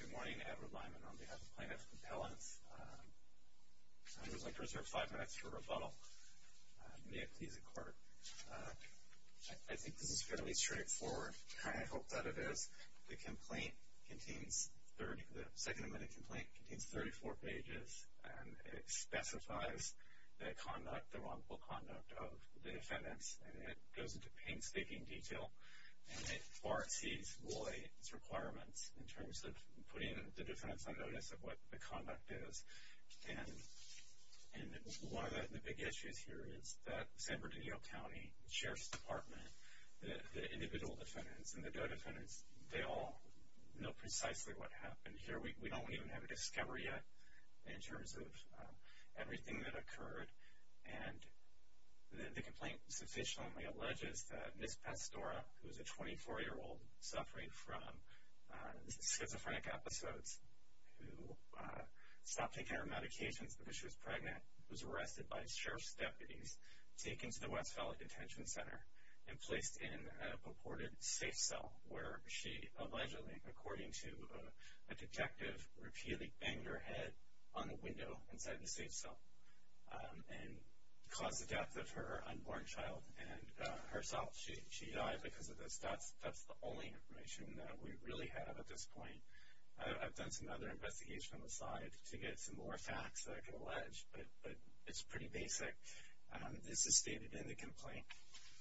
Good morning, Edward Lyman on behalf of Plaintiffs' Compellents. I'd like to reserve five minutes for rebuttal. May it please the Court. I think this is fairly straightforward. I hope that it is. The complaint contains, the second amendment complaint, contains 34 pages and it specifies the conduct, the wrongful conduct of the defendants and it goes into painstaking detail and it far exceeds this boy's requirements in terms of putting the defendants on notice of what the conduct is. And one of the big issues here is that San Bernardino County Sheriff's Department, the individual defendants and the due defendants, they all know precisely what happened here. We don't even have a discovery yet in terms of everything that occurred and the complaint sufficiently alleges that Ms. Pastora, who is a 24-year-old suffering from schizophrenic episodes, who stopped taking her medications because she was pregnant, was arrested by sheriff's deputies, taken to the West Valley Detention Center and placed in a purported safe cell where she allegedly, according to a detective, repeatedly banged her head on the window inside the safe cell and caused the death of her unborn child and herself. She died because of this. That's the only information that we really have at this point. I've done some other investigation on the side to get some more facts that I can allege, but it's pretty basic. This is stated in the complaint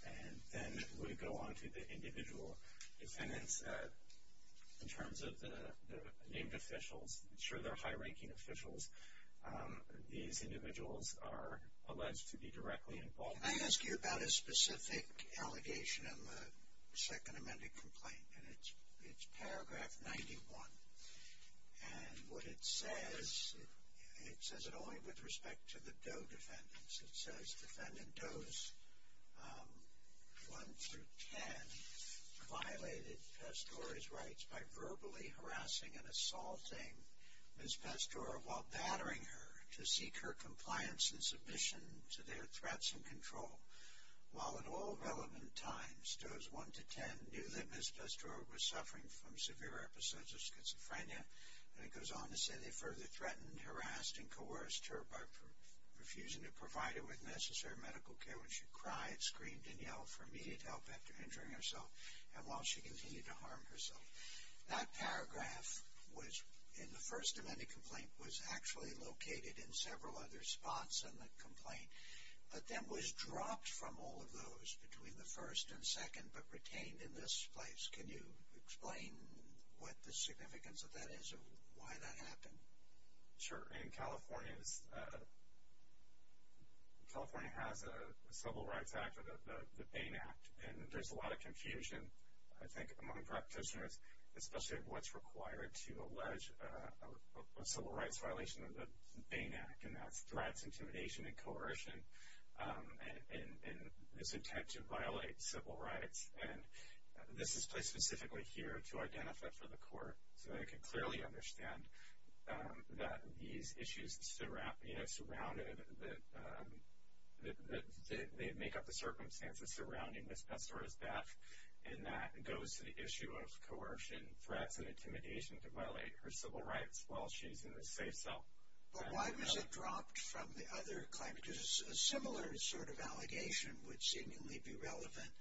and then we go on to the individual defendants in terms of the named officials. I'm sure they're high-ranking officials. These individuals are alleged to be directly involved. Can I ask you about a specific allegation in the second amended complaint? It's paragraph 91 and what it says, it says it only with respect to the due defendants. It says defendant Does 1-10 violated Pastore's rights by verbally harassing and assaulting Ms. Pastore while battering her to seek her compliance and submission to their threats and control. While at all relevant times, Does 1-10 knew that Ms. Pastore was suffering from severe episodes of schizophrenia and it goes on to say they further threatened, harassed and coerced her by refusing to provide her with necessary medical care. When she cried, screamed and yelled for immediate help after injuring herself and while she continued to harm herself. That paragraph in the first amended complaint was actually located in several other spots in the complaint but then was dropped from all of those between the first and second but retained in this place. Can you explain what the significance of that is and why that happened? Sure. In California, California has a Civil Rights Act or the Bain Act and there's a lot of confusion I think among practitioners especially of what's required to allege a civil rights violation of the Bain Act and that's threats, intimidation and coercion and this attempt to violate civil rights. And this is placed specifically here to identify for the court so they can clearly understand that these issues that surround, that make up the circumstances surrounding Ms. Pastore's death and that goes to the issue of coercion, threats and intimidation to violate her civil rights while she's in a safe cell. But why was it dropped from the other claim? Because a similar sort of allegation would seemingly be relevant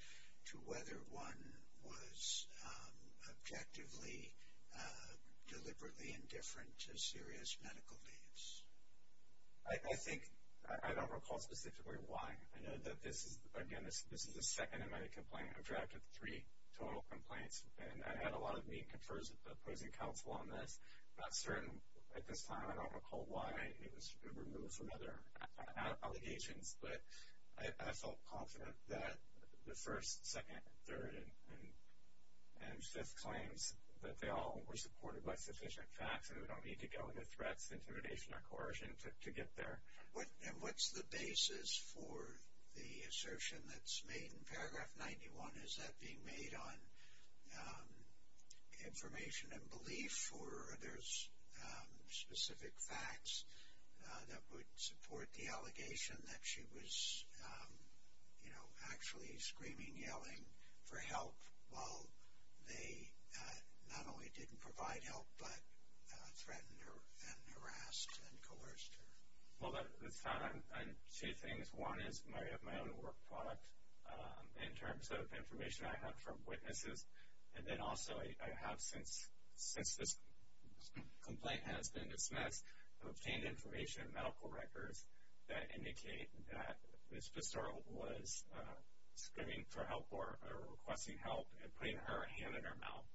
to whether one was objectively deliberately indifferent to serious medical needs. I think, I don't recall specifically why. I know that this is, again, this is the second amended complaint. I've drafted three total complaints and I've had a lot of meeting with opposing counsel on this. I'm not certain at this time I don't recall why it was removed from other allegations but I felt confident that the first, second, third and fifth claims that they all were supported by sufficient facts and we don't need to go into threats, intimidation or coercion to get there. And what's the basis for the assertion that's made in paragraph 91? Is that being made on information and belief or are there specific facts that would support the allegation that she was, you know, actually screaming, yelling for help while they not only didn't provide help but threatened her and harassed and coerced her? Well, that's found on two things. One is my own work product in terms of information I have from witnesses and then also I have since this complaint has been dismissed, I've obtained information, medical records that indicate that Ms. Pissarro was screaming for help or requesting help and putting her hand in her mouth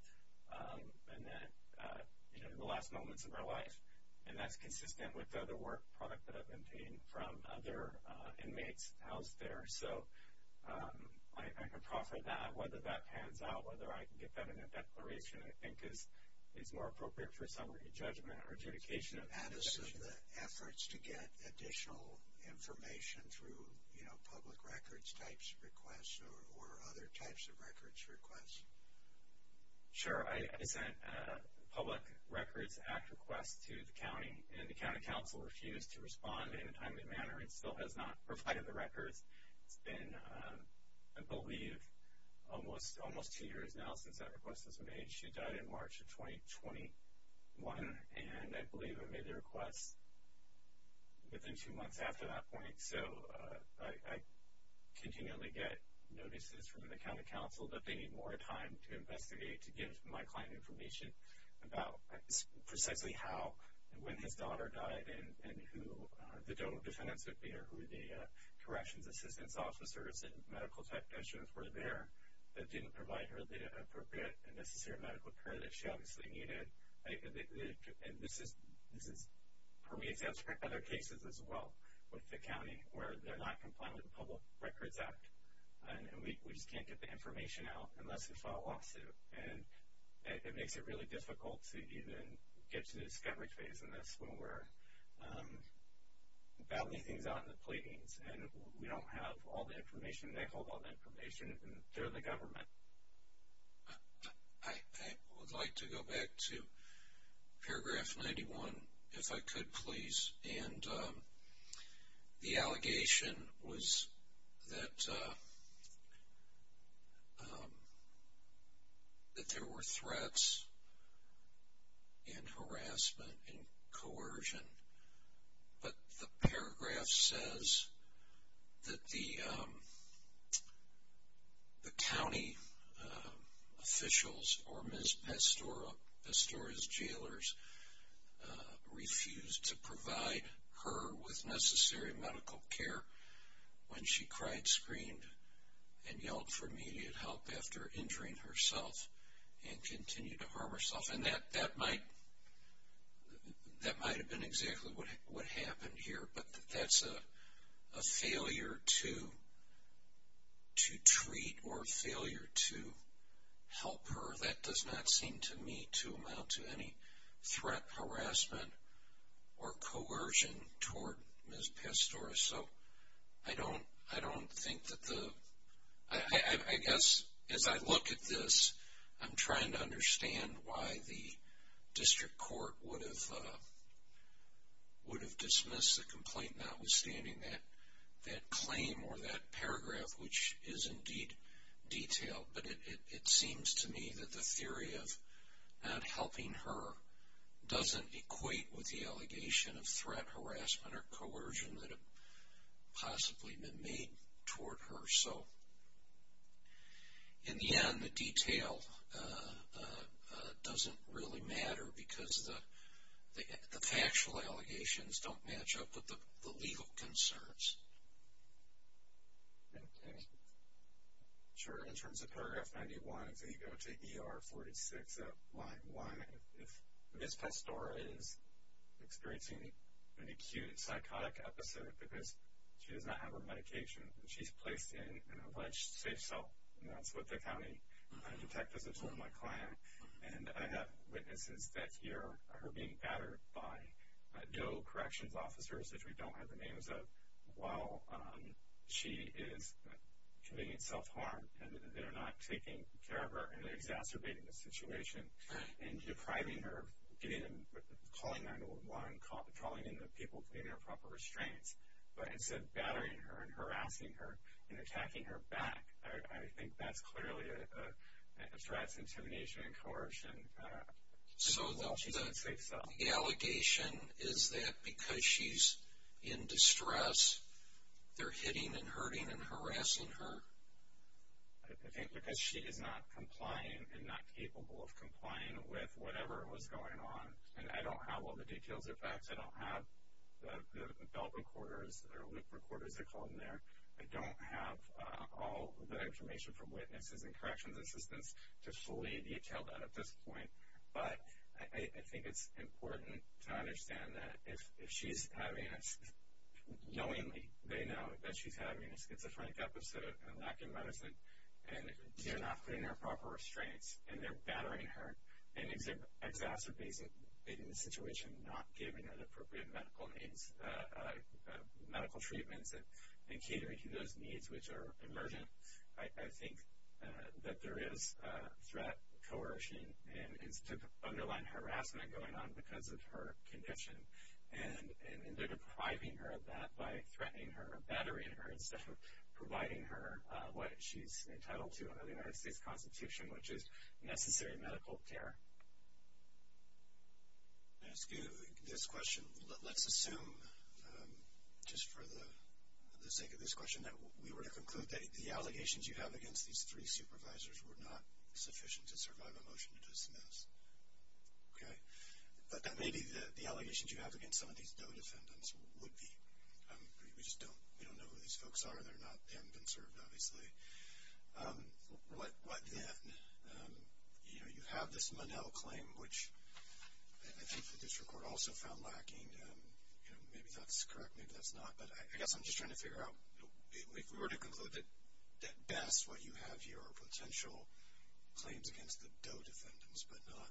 in the last moments of her life. And that's consistent with the other work product that I've obtained from other inmates housed there. So I can proffer that, whether that pans out, whether I can get that in a declaration, I think is more appropriate for some re-judgment or adjudication. Add to some of the efforts to get additional information through, you know, public records types of requests or other types of records requests? Sure. I sent a Public Records Act request to the county, and the county council refused to respond in a timely manner and still has not provided the records. It's been, I believe, almost two years now since that request was made. She died in March of 2021, and I believe I made the request within two months after that point. So I continually get notices from the county council that they need more time to investigate, to give my client information about precisely how and when his daughter died and who the total defendants would be or who the corrections assistance officers and medical technicians were there that didn't provide her the appropriate and necessary medical care that she obviously needed. And this permeates into other cases as well with the county where they're not compliant with the Public Records Act, and we just can't get the information out unless we file a lawsuit. And it makes it really difficult to even get to the discovery phase in this when we're battling things out in the pleadings, and we don't have all the information. They hold all the information, and they're the government. I would like to go back to paragraph 91, if I could, please. And the allegation was that there were threats and harassment and coercion, but the paragraph says that the county officials or Ms. Pastora's jailers refused to provide her with necessary medical care when she cried, screamed, and yelled for immediate help after injuring herself and continued to harm herself. And that might have been exactly what happened here, but that's a failure to treat or a failure to help her. That does not seem to me to amount to any threat, harassment, or coercion toward Ms. Pastora. So I don't think that the, I guess as I look at this, I'm trying to understand why the district court would have dismissed the complaint notwithstanding that claim or that paragraph, which is indeed detailed. But it seems to me that the theory of not helping her doesn't equate with the allegation of threat, harassment, or coercion that have possibly been made toward her. So in the end, the detail doesn't really matter because the factual allegations don't match up with the legal concerns. Okay. Sure, in terms of paragraph 91, if you go to ER 46 of line 1, if Ms. Pastora is experiencing an acute psychotic episode because she does not have her medication and she's placed in an alleged safe cell, and that's what the county detectives have told my client, and I have witnesses that hear her being battered by DO corrections officers, which we don't have the names of, while she is committing self-harm, and they're not taking care of her and they're exacerbating the situation and depriving her of calling 911, calling in the people to give her proper restraints. But instead battering her and harassing her and attacking her back, I think that's clearly a threat, intimidation, and coercion while she's in a safe cell. The allegation is that because she's in distress, they're hitting and hurting and harassing her? I think because she is not complying and not capable of complying with whatever was going on, and I don't have all the details or facts. I don't have the belt recorders or loop recorders, they're called in there. I don't have all the information from witnesses and corrections assistants to fully detail that at this point. But I think it's important to understand that if she's having this, knowingly they know that she's having a schizophrenic episode and lacking medicine, and if they're not putting in their proper restraints and they're battering her and exacerbating the situation, not giving her the appropriate medical needs, medical treatments and catering to those needs which are emergent, I think that there is threat, coercion, and underlying harassment going on because of her condition. And they're depriving her of that by threatening her, battering her, instead of providing her what she's entitled to under the United States Constitution, which is necessary medical care. I'm going to ask you this question. Let's assume, just for the sake of this question, that we were to conclude that the allegations you have against these three supervisors were not sufficient to survive a motion to dismiss. Okay? But that may be the allegations you have against some of these DOE defendants would be. We just don't know who these folks are. They're not then conserved, obviously. What then? You know, you have this Monell claim, which I think the district court also found lacking. Maybe that's correct. Maybe that's not. But I guess I'm just trying to figure out, if we were to conclude that best, what you have here are potential claims against the DOE defendants but not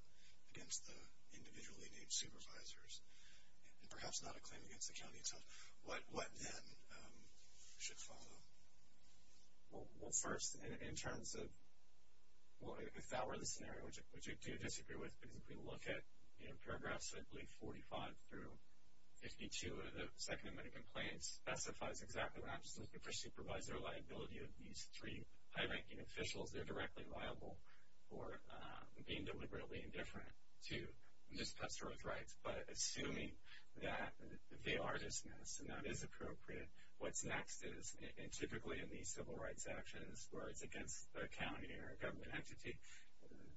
against the individually named supervisors, and perhaps not a claim against the county attorney. What then should follow? Well, first, in terms of if that were the scenario, which I do disagree with, because if we look at paragraphs, I believe, 45 through 52 of the second amendment of complaints, specifies exactly what I'm just looking for, supervisor liability of these three high-ranking officials. They're directly liable for being deliberately indifferent to Ms. Pester's rights. But assuming that they are dismissed and that is appropriate, then what's next is, and typically in these civil rights actions, where it's against the county or government entity,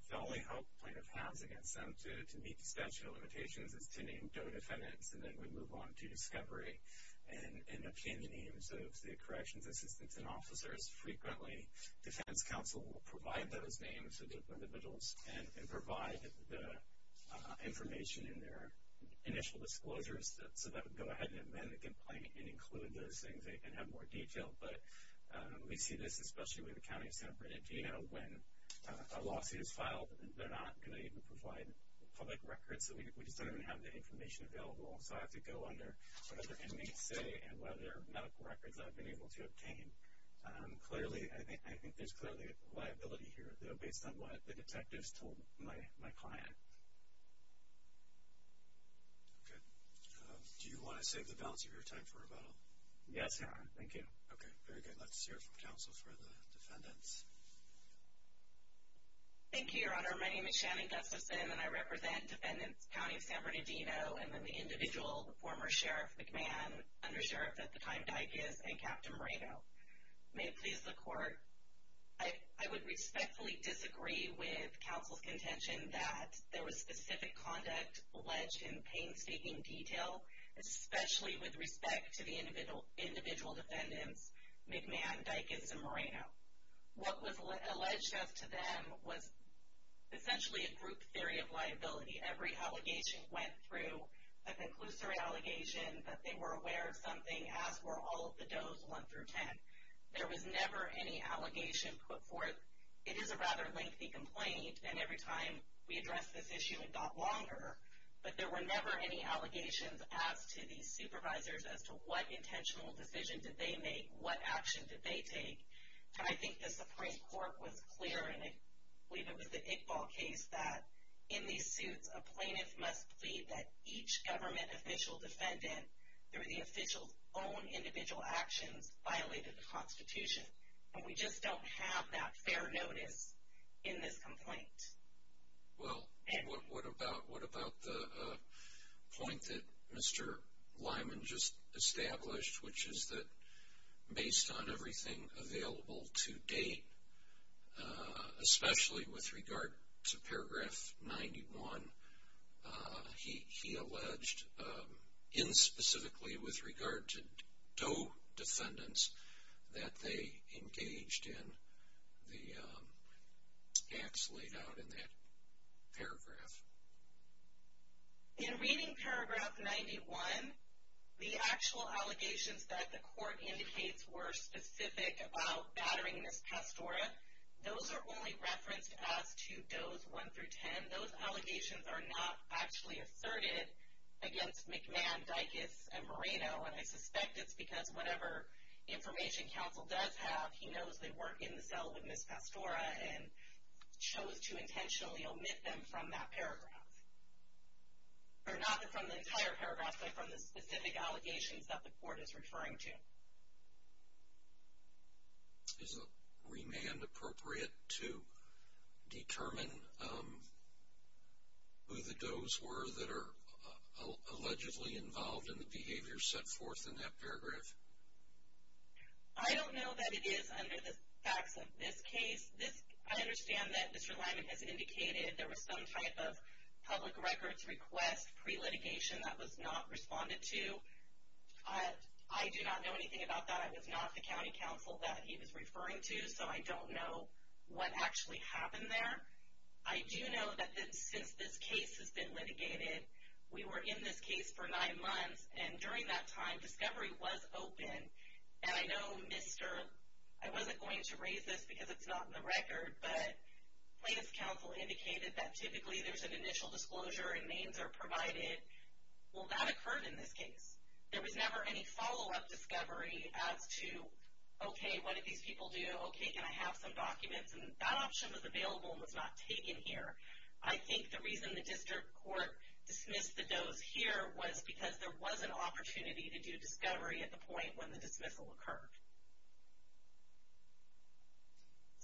the only hope plaintiff has against them to meet the statute of limitations is to name DOE defendants, and then we move on to discovery and obtain the names of the corrections assistants and officers. Frequently, defense counsel will provide those names to the individuals and provide the information in their initial disclosures, so that would go ahead and amend the complaint and include those things and have more detail. But we see this, especially with the county of San Bernardino, when a lawsuit is filed, they're not going to even provide public records, so we just don't even have that information available. So I have to go under what other inmates say and what other medical records I've been able to obtain. Clearly, I think there's clearly a liability here, though, based on what the detectives told my client. Okay. Do you want to save the balance of your time for rebuttal? Yes, Your Honor. Thank you. Okay. Very good. Let's hear from counsel for the defendants. Thank you, Your Honor. My name is Shannon Gustafson, and I represent Defendants County of San Bernardino. I'm an individual, a former sheriff, McMahon, undersheriff at the time, Dykes, and Captain Moreno. May it please the Court, I would respectfully disagree with counsel's contention that there was specific conduct alleged in painstaking detail, especially with respect to the individual defendants, McMahon, Dykes, and Moreno. What was alleged as to them was essentially a group theory of liability. Every allegation went through a conclusory allegation that they were aware of something, as were all of the does 1 through 10. There was never any allegation put forth. It is a rather lengthy complaint, and every time we addressed this issue, it got longer. But there were never any allegations asked to these supervisors as to what intentional decision did they make, what action did they take. And I think the Supreme Court was clear, and I believe it was the Iqbal case, that in these suits, a plaintiff must plead that each government official defendant, through the official's own individual actions, violated the Constitution. And we just don't have that fair notice in this complaint. Well, what about the point that Mr. Lyman just established, which is that based on everything available to date, especially with regard to paragraph 91, he alleged, in specifically with regard to Doe defendants, that they engaged in the acts laid out in that paragraph. In reading paragraph 91, the actual allegations that the court indicates were specific about battering Ms. Pastora, those are only referenced as to does 1 through 10. And those allegations are not actually asserted against McMahon, Dicus, and Moreno. And I suspect it's because whatever information counsel does have, he knows they work in the cell with Ms. Pastora and chose to intentionally omit them from that paragraph. Or not from the entire paragraph, but from the specific allegations that the court is referring to. Is a remand appropriate to determine who the does were that are allegedly involved in the behavior set forth in that paragraph? I don't know that it is under the facts of this case. I understand that Mr. Lyman has indicated there was some type of public records request pre-litigation that was not responded to. I do not know anything about that. I was not the county counsel that he was referring to, so I don't know what actually happened there. I do know that since this case has been litigated, we were in this case for nine months, and during that time, discovery was open. And I know Mr. — I wasn't going to raise this because it's not in the record, but Plaintiff's counsel indicated that typically there's an initial disclosure and names are provided. Well, that occurred in this case. There was never any follow-up discovery as to, okay, what did these people do? Okay, can I have some documents? And that option was available and was not taken here. I think the reason the district court dismissed the does here was because there was an opportunity to do discovery at the point when the dismissal occurred.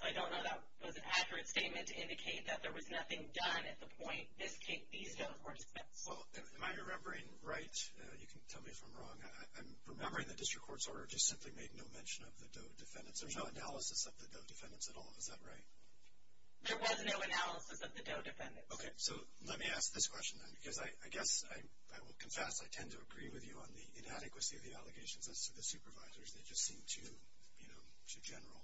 So I don't know that was an accurate statement to indicate that there was nothing done at the point when these does were dismissed. Well, am I remembering right? You can tell me if I'm wrong. I'm remembering the district court's order just simply made no mention of the does defendants. There's no analysis of the does defendants at all. Is that right? There was no analysis of the does defendants. Okay. So let me ask this question, then, because I guess I will confess I tend to agree with you on the inadequacy of the allegations as to the supervisors. They just seem too general.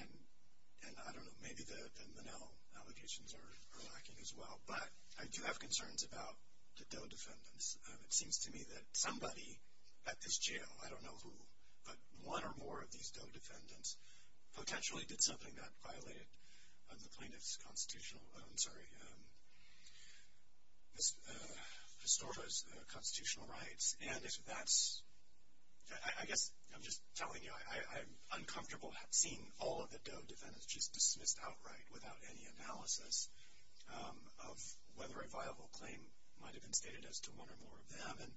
And I don't know, maybe the Mennell allegations are lacking as well. But I do have concerns about the does defendants. It seems to me that somebody at this jail, I don't know who, but one or more of these does defendants potentially did something that violated the plaintiff's constitutional, I'm sorry, Ms. Estorva's constitutional rights. And I guess I'm just telling you I'm uncomfortable seeing all of the does defendants just dismissed outright without any analysis of whether a viable claim might have been stated as to one or more of them. And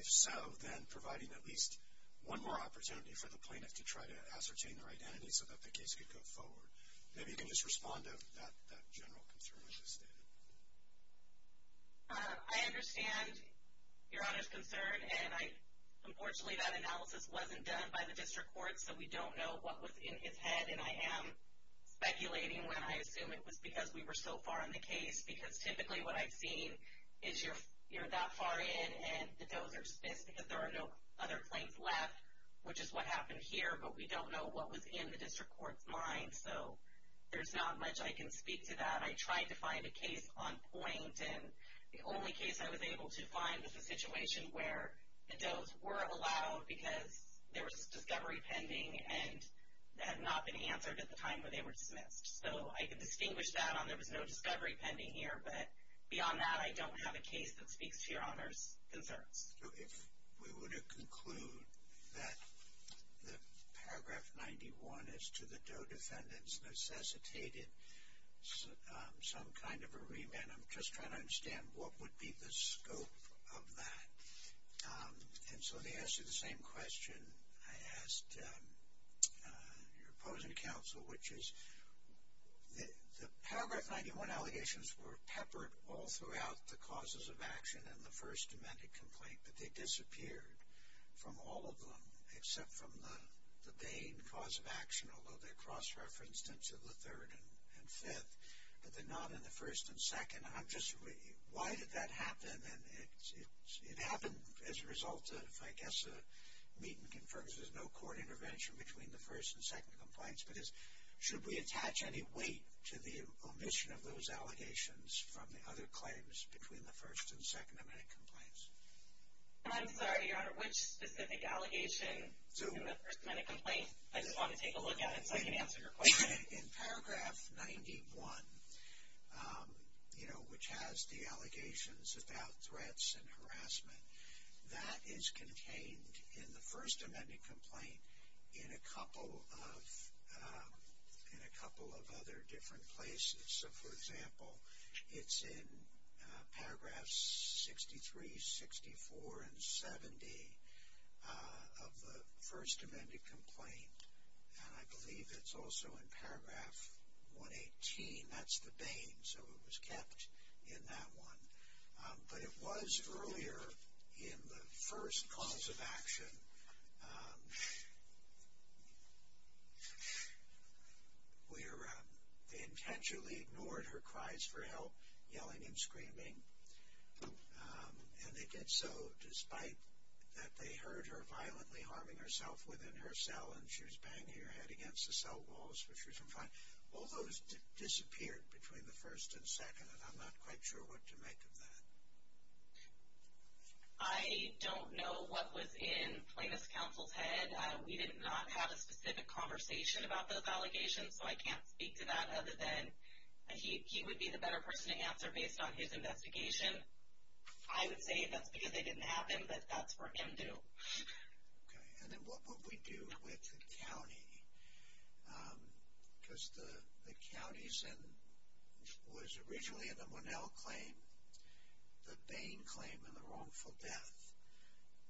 if so, then providing at least one more opportunity for the plaintiff to try to ascertain their identity so that the case could go forward. Maybe you can just respond to that general concern I just stated. I understand Your Honor's concern. And unfortunately that analysis wasn't done by the district court, so we don't know what was in his head. And I am speculating when I assume it was because we were so far in the case. Because typically what I've seen is you're that far in and the does are dismissed because there are no other claims left, which is what happened here. But we don't know what was in the district court's mind. So there's not much I can speak to that. I tried to find a case on point, and the only case I was able to find was a situation where the does were allowed because there was discovery pending and had not been answered at the time where they were dismissed. So I can distinguish that on there was no discovery pending here. But beyond that, I don't have a case that speaks to Your Honor's concerns. If we were to conclude that the paragraph 91 as to the DOE defendants necessitated some kind of a remand, I'm just trying to understand what would be the scope of that. And so to answer the same question I asked your opposing counsel, which is the paragraph 91 allegations were peppered all throughout the causes of action in the first amended complaint, but they disappeared from all of them except from the Bain cause of action, although they're cross-referenced into the third and fifth, but they're not in the first and second. Why did that happen? And it happened as a result of, I guess, a meeting confirms there's no court intervention between the first and second complaints, but should we attach any weight to the omission of those allegations from the other claims between the first and second amended complaints? I'm sorry, Your Honor, which specific allegations in the first amended complaint? I just want to take a look at it so I can answer your question. In paragraph 91, you know, which has the allegations about threats and harassment, that is contained in the first amended complaint in a couple of other different places. So, for example, it's in paragraphs 63, 64, and 70 of the first amended complaint, and I believe it's also in paragraph 118. That's the Bain, so it was kept in that one. But it was earlier in the first cause of action where they intentionally ignored her cries for help, yelling and screaming, and they did so despite that they heard her violently harming herself within her cell and she was banging her head against the cell walls, which was in front. All those disappeared between the first and second, and I'm not quite sure what to make of that. I don't know what was in Plaintiff's Counsel's head. We did not have a specific conversation about those allegations, so I can't speak to that other than he would be the better person to answer based on his investigation. I would say that's because they didn't happen, but that's for him to do. Okay, and then what would we do with the county? Because the county was originally in the Monell claim, the Bain claim, and the wrongful death,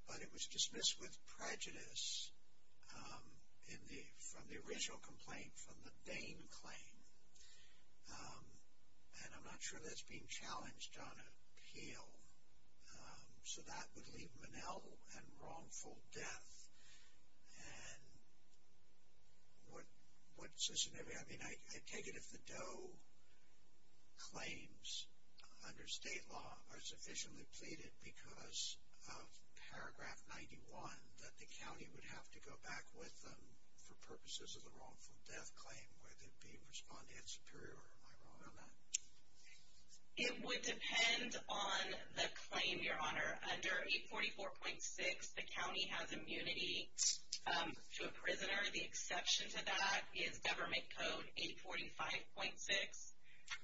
but it was dismissed with prejudice from the original complaint from the Bain claim, and I'm not sure that's being challenged on appeal. So that would leave Monell and wrongful death, and what's the scenario? I mean, I take it if the Doe claims under state law are sufficiently pleaded because of Paragraph 91 that the county would have to go back with them for purposes of the wrongful death claim where they'd be responded superior. Am I wrong on that? It would depend on the claim, Your Honor. Under 844.6, the county has immunity to a prisoner. The exception to that is Government Code 845.6,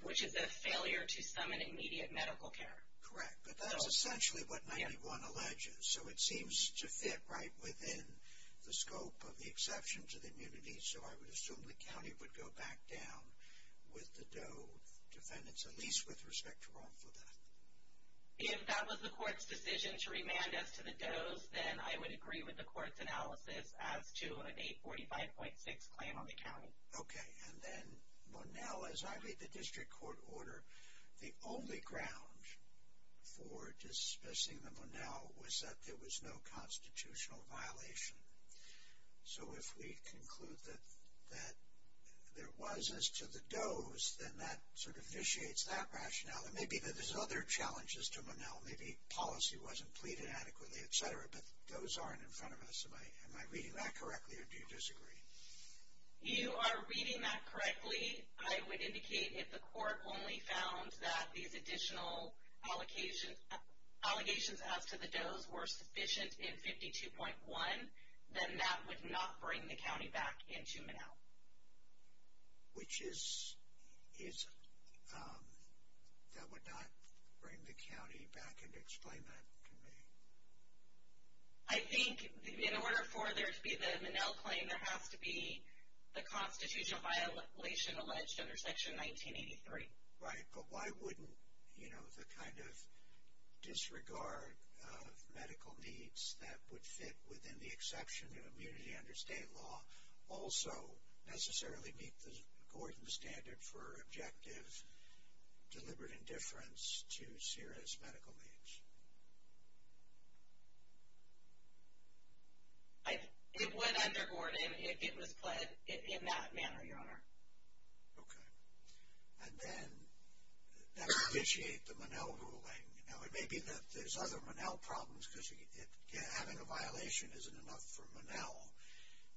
which is a failure to summon immediate medical care. Correct, but that's essentially what 91 alleges, so it seems to fit right within the scope of the exception to the immunity, so I would assume the county would go back down with the Doe defendants, at least with respect to wrongful death. If that was the court's decision to remand us to the Doe's, then I would agree with the court's analysis as to an 845.6 claim on the county. Okay, and then Monell, as I read the district court order, the only ground for dismissing the Monell was that there was no constitutional violation. So if we conclude that there was as to the Doe's, then that sort of initiates that rationale. It may be that there's other challenges to Monell. Maybe policy wasn't pleaded adequately, et cetera, but the Doe's aren't in front of us. Am I reading that correctly, or do you disagree? You are reading that correctly. I would indicate if the court only found that these additional allegations as to the Doe's were sufficient in 52.1, then that would not bring the county back into Monell. Which is, that would not bring the county back into explain that to me? I think in order for there to be the Monell claim, there has to be the constitutional violation alleged under Section 1983. Right, but why wouldn't, you know, the kind of disregard of medical needs that would fit within the exception of immunity under state law also necessarily meet Gordon's standard for objective deliberate indifference to serious medical needs? It went under Gordon. Okay, and then that would initiate the Monell ruling. Now, it may be that there's other Monell problems because having a violation isn't enough for Monell.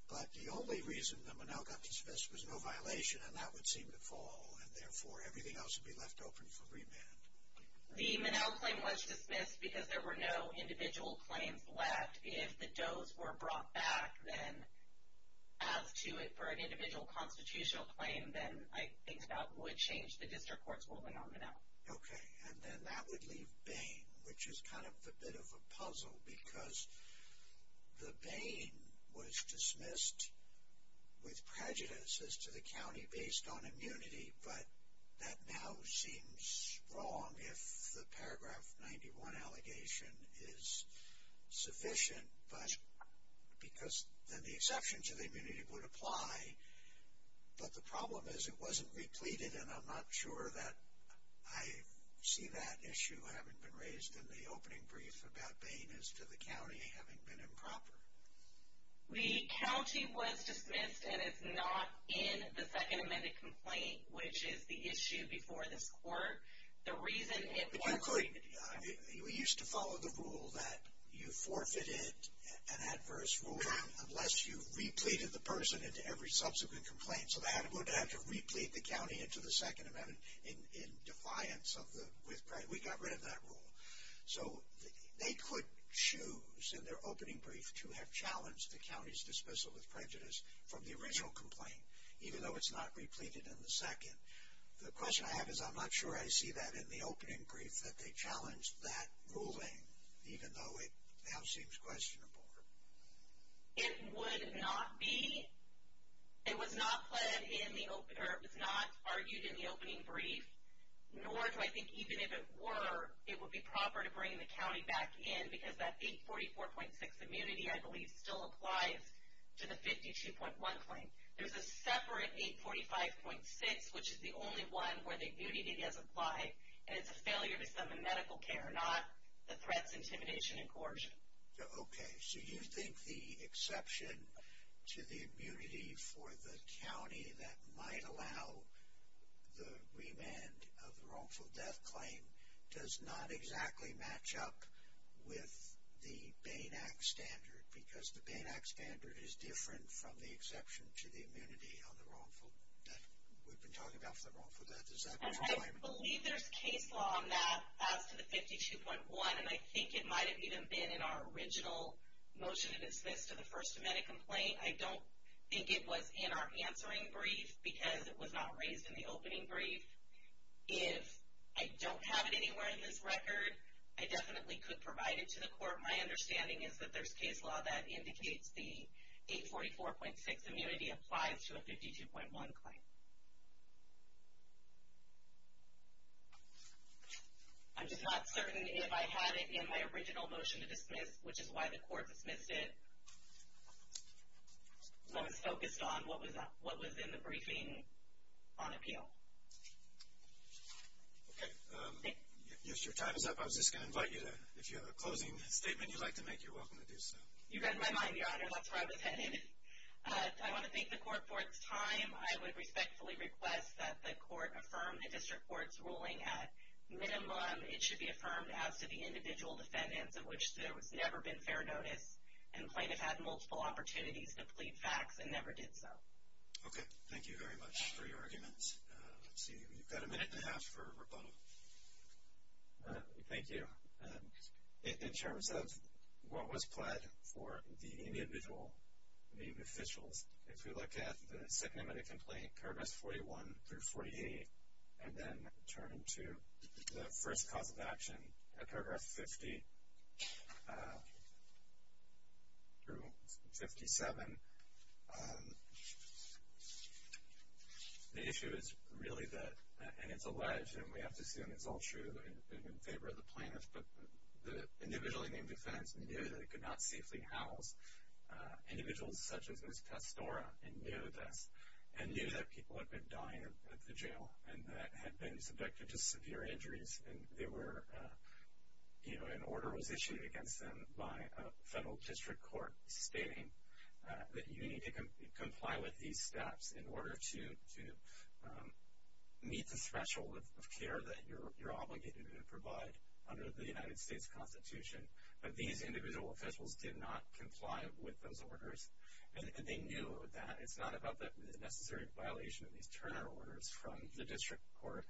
But the only reason the Monell got dismissed was no violation, and that would seem to fall, and therefore everything else would be left open for remand. The Monell claim was dismissed because there were no individual claims left. If the does were brought back, then as to it for an individual constitutional claim, then I think that would change the district court's ruling on the Monell. Okay, and then that would leave Bain, which is kind of a bit of a puzzle because the Bain was dismissed with prejudice as to the county based on immunity, but that now seems wrong if the paragraph 91 allegation is sufficient because then the exception to the immunity would apply. But the problem is it wasn't repleted, and I'm not sure that I see that issue having been raised in the opening brief about Bain as to the county having been improper. The county was dismissed, and it's not in the second amended complaint, which is the issue before this court. The reason it wasn't in the district court. We used to follow the rule that you forfeited an adverse rule unless you repleted the person into every subsequent complaint, so that would have to replete the county into the second amendment in defiance of the, we got rid of that rule. So they could choose in their opening brief to have challenged the county's dismissal with prejudice from the original complaint, even though it's not repleted in the second. The question I have is I'm not sure I see that in the opening brief, that they challenged that ruling even though it now seems questionable. It would not be. It was not argued in the opening brief, nor do I think even if it were, it would be proper to bring the county back in because that 844.6 immunity, I believe, still applies to the 52.1 claim. There's a separate 845.6, which is the only one where the immunity does apply, and it's a failure to send the medical care, not the threats, intimidation, and coercion. Okay. So you think the exception to the immunity for the county that might allow the remand of the wrongful death claim does not exactly match up with the Bain Act standard because the Bain Act standard is different from the exception to the immunity on the wrongful death. We've been talking about the wrongful death. I believe there's case law on that as to the 52.1, and I think it might have even been in our original motion, and it's this, to the First Amendment complaint. I don't think it was in our answering brief because it was not raised in the opening brief. If I don't have it anywhere in this record, I definitely could provide it to the court. My understanding is that there's case law that indicates the 844.6 immunity applies to a 52.1 claim. I'm just not certain if I had it in my original motion to dismiss, which is why the court dismissed it, was focused on what was in the briefing on appeal. Okay. Yes, your time is up. I was just going to invite you to, if you have a closing statement you'd like to make, you're welcome to do so. You read my mind, Your Honor. That's where I was headed. I want to thank the court for its time. I would respectfully request that the court affirm the district court's ruling. At minimum, it should be affirmed as to the individual defendants, of which there has never been fair notice, and plaintiff had multiple opportunities to plead facts and never did so. Okay. Thank you very much for your arguments. Let's see, we've got a minute and a half for rebuttal. Thank you. In terms of what was pled for the individual, the officials, if you look at the second amendment complaint, paragraphs 41 through 48, and then turn to the first cause of action at paragraph 50 through 57, the issue is really that, and it's alleged, and we have to assume it's all true and in favor of the plaintiff, but the individually named defendants knew they could not safely house individuals such as Ms. Testora and knew that people had been dying at the jail and had been subjected to severe injuries, and an order was issued against them by a federal district court stating that you need to comply with these steps in order to meet the threshold of care that you're obligated to provide under the United States Constitution. But these individual officials did not comply with those orders, and they knew that it's not about the necessary violation of these Turner orders from the district court.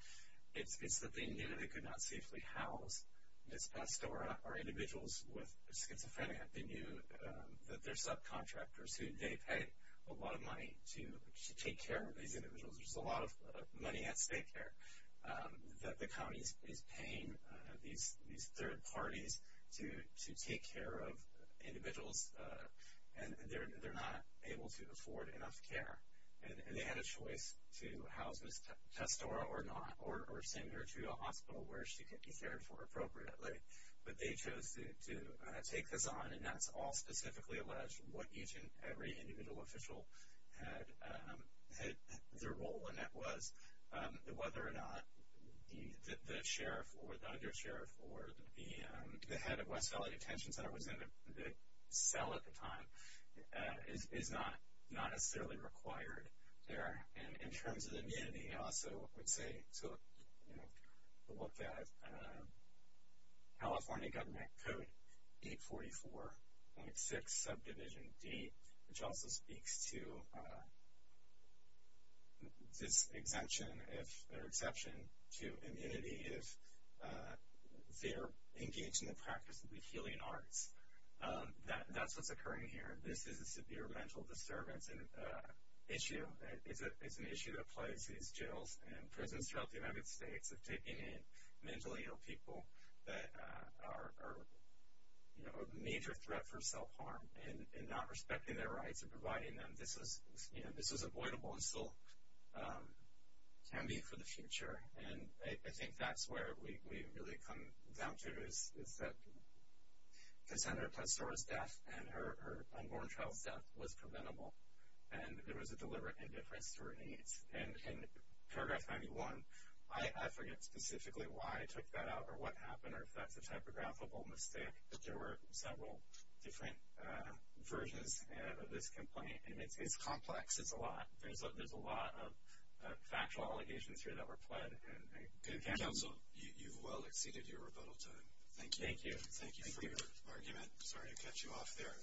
It's that they knew they could not safely house Ms. Testora or individuals with schizophrenia. They knew that their subcontractors, they pay a lot of money to take care of these individuals. There's a lot of money at stake there that the county is paying these third parties to take care of individuals, and they're not able to afford enough care. And they had a choice to house Ms. Testora or not, or send her to a hospital where she could be cared for appropriately. But they chose to take this on, and that's all specifically alleged, what each and every individual official had their role in. And that was whether or not the sheriff or the undersheriff or the head of West Valley Detention Center was in the cell at the time is not necessarily required there. And in terms of the immunity, I also would say to look at California Government Code 844.6, subdivision D, which also speaks to this exemption or exception to immunity if they're engaged in the practice of the healing arts. That's what's occurring here. This is a severe mental disturbance issue. It's an issue that applies to these jails and prisons throughout the United States of taking in mentally ill people that are a major threat for self-harm and not respecting their rights and providing them. This is avoidable and still can be for the future. And I think that's where we really come down to is that Senator Testora's death and her unborn child's death was preventable, and there was a deliberate indifference to her needs. And in paragraph 91, I forget specifically why I took that out or what happened or if that's a typographical mistake, but there were several different versions of this complaint. And it's complex. It's a lot. There's a lot of factual allegations here that were pled. And, Counsel, you've well exceeded your rebuttal time. Thank you. Thank you for your argument. Sorry to cut you off there.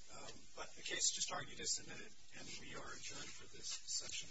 But the case just argued is submitted, and we are adjourned for this session. All rise. This court for this session stands adjourned.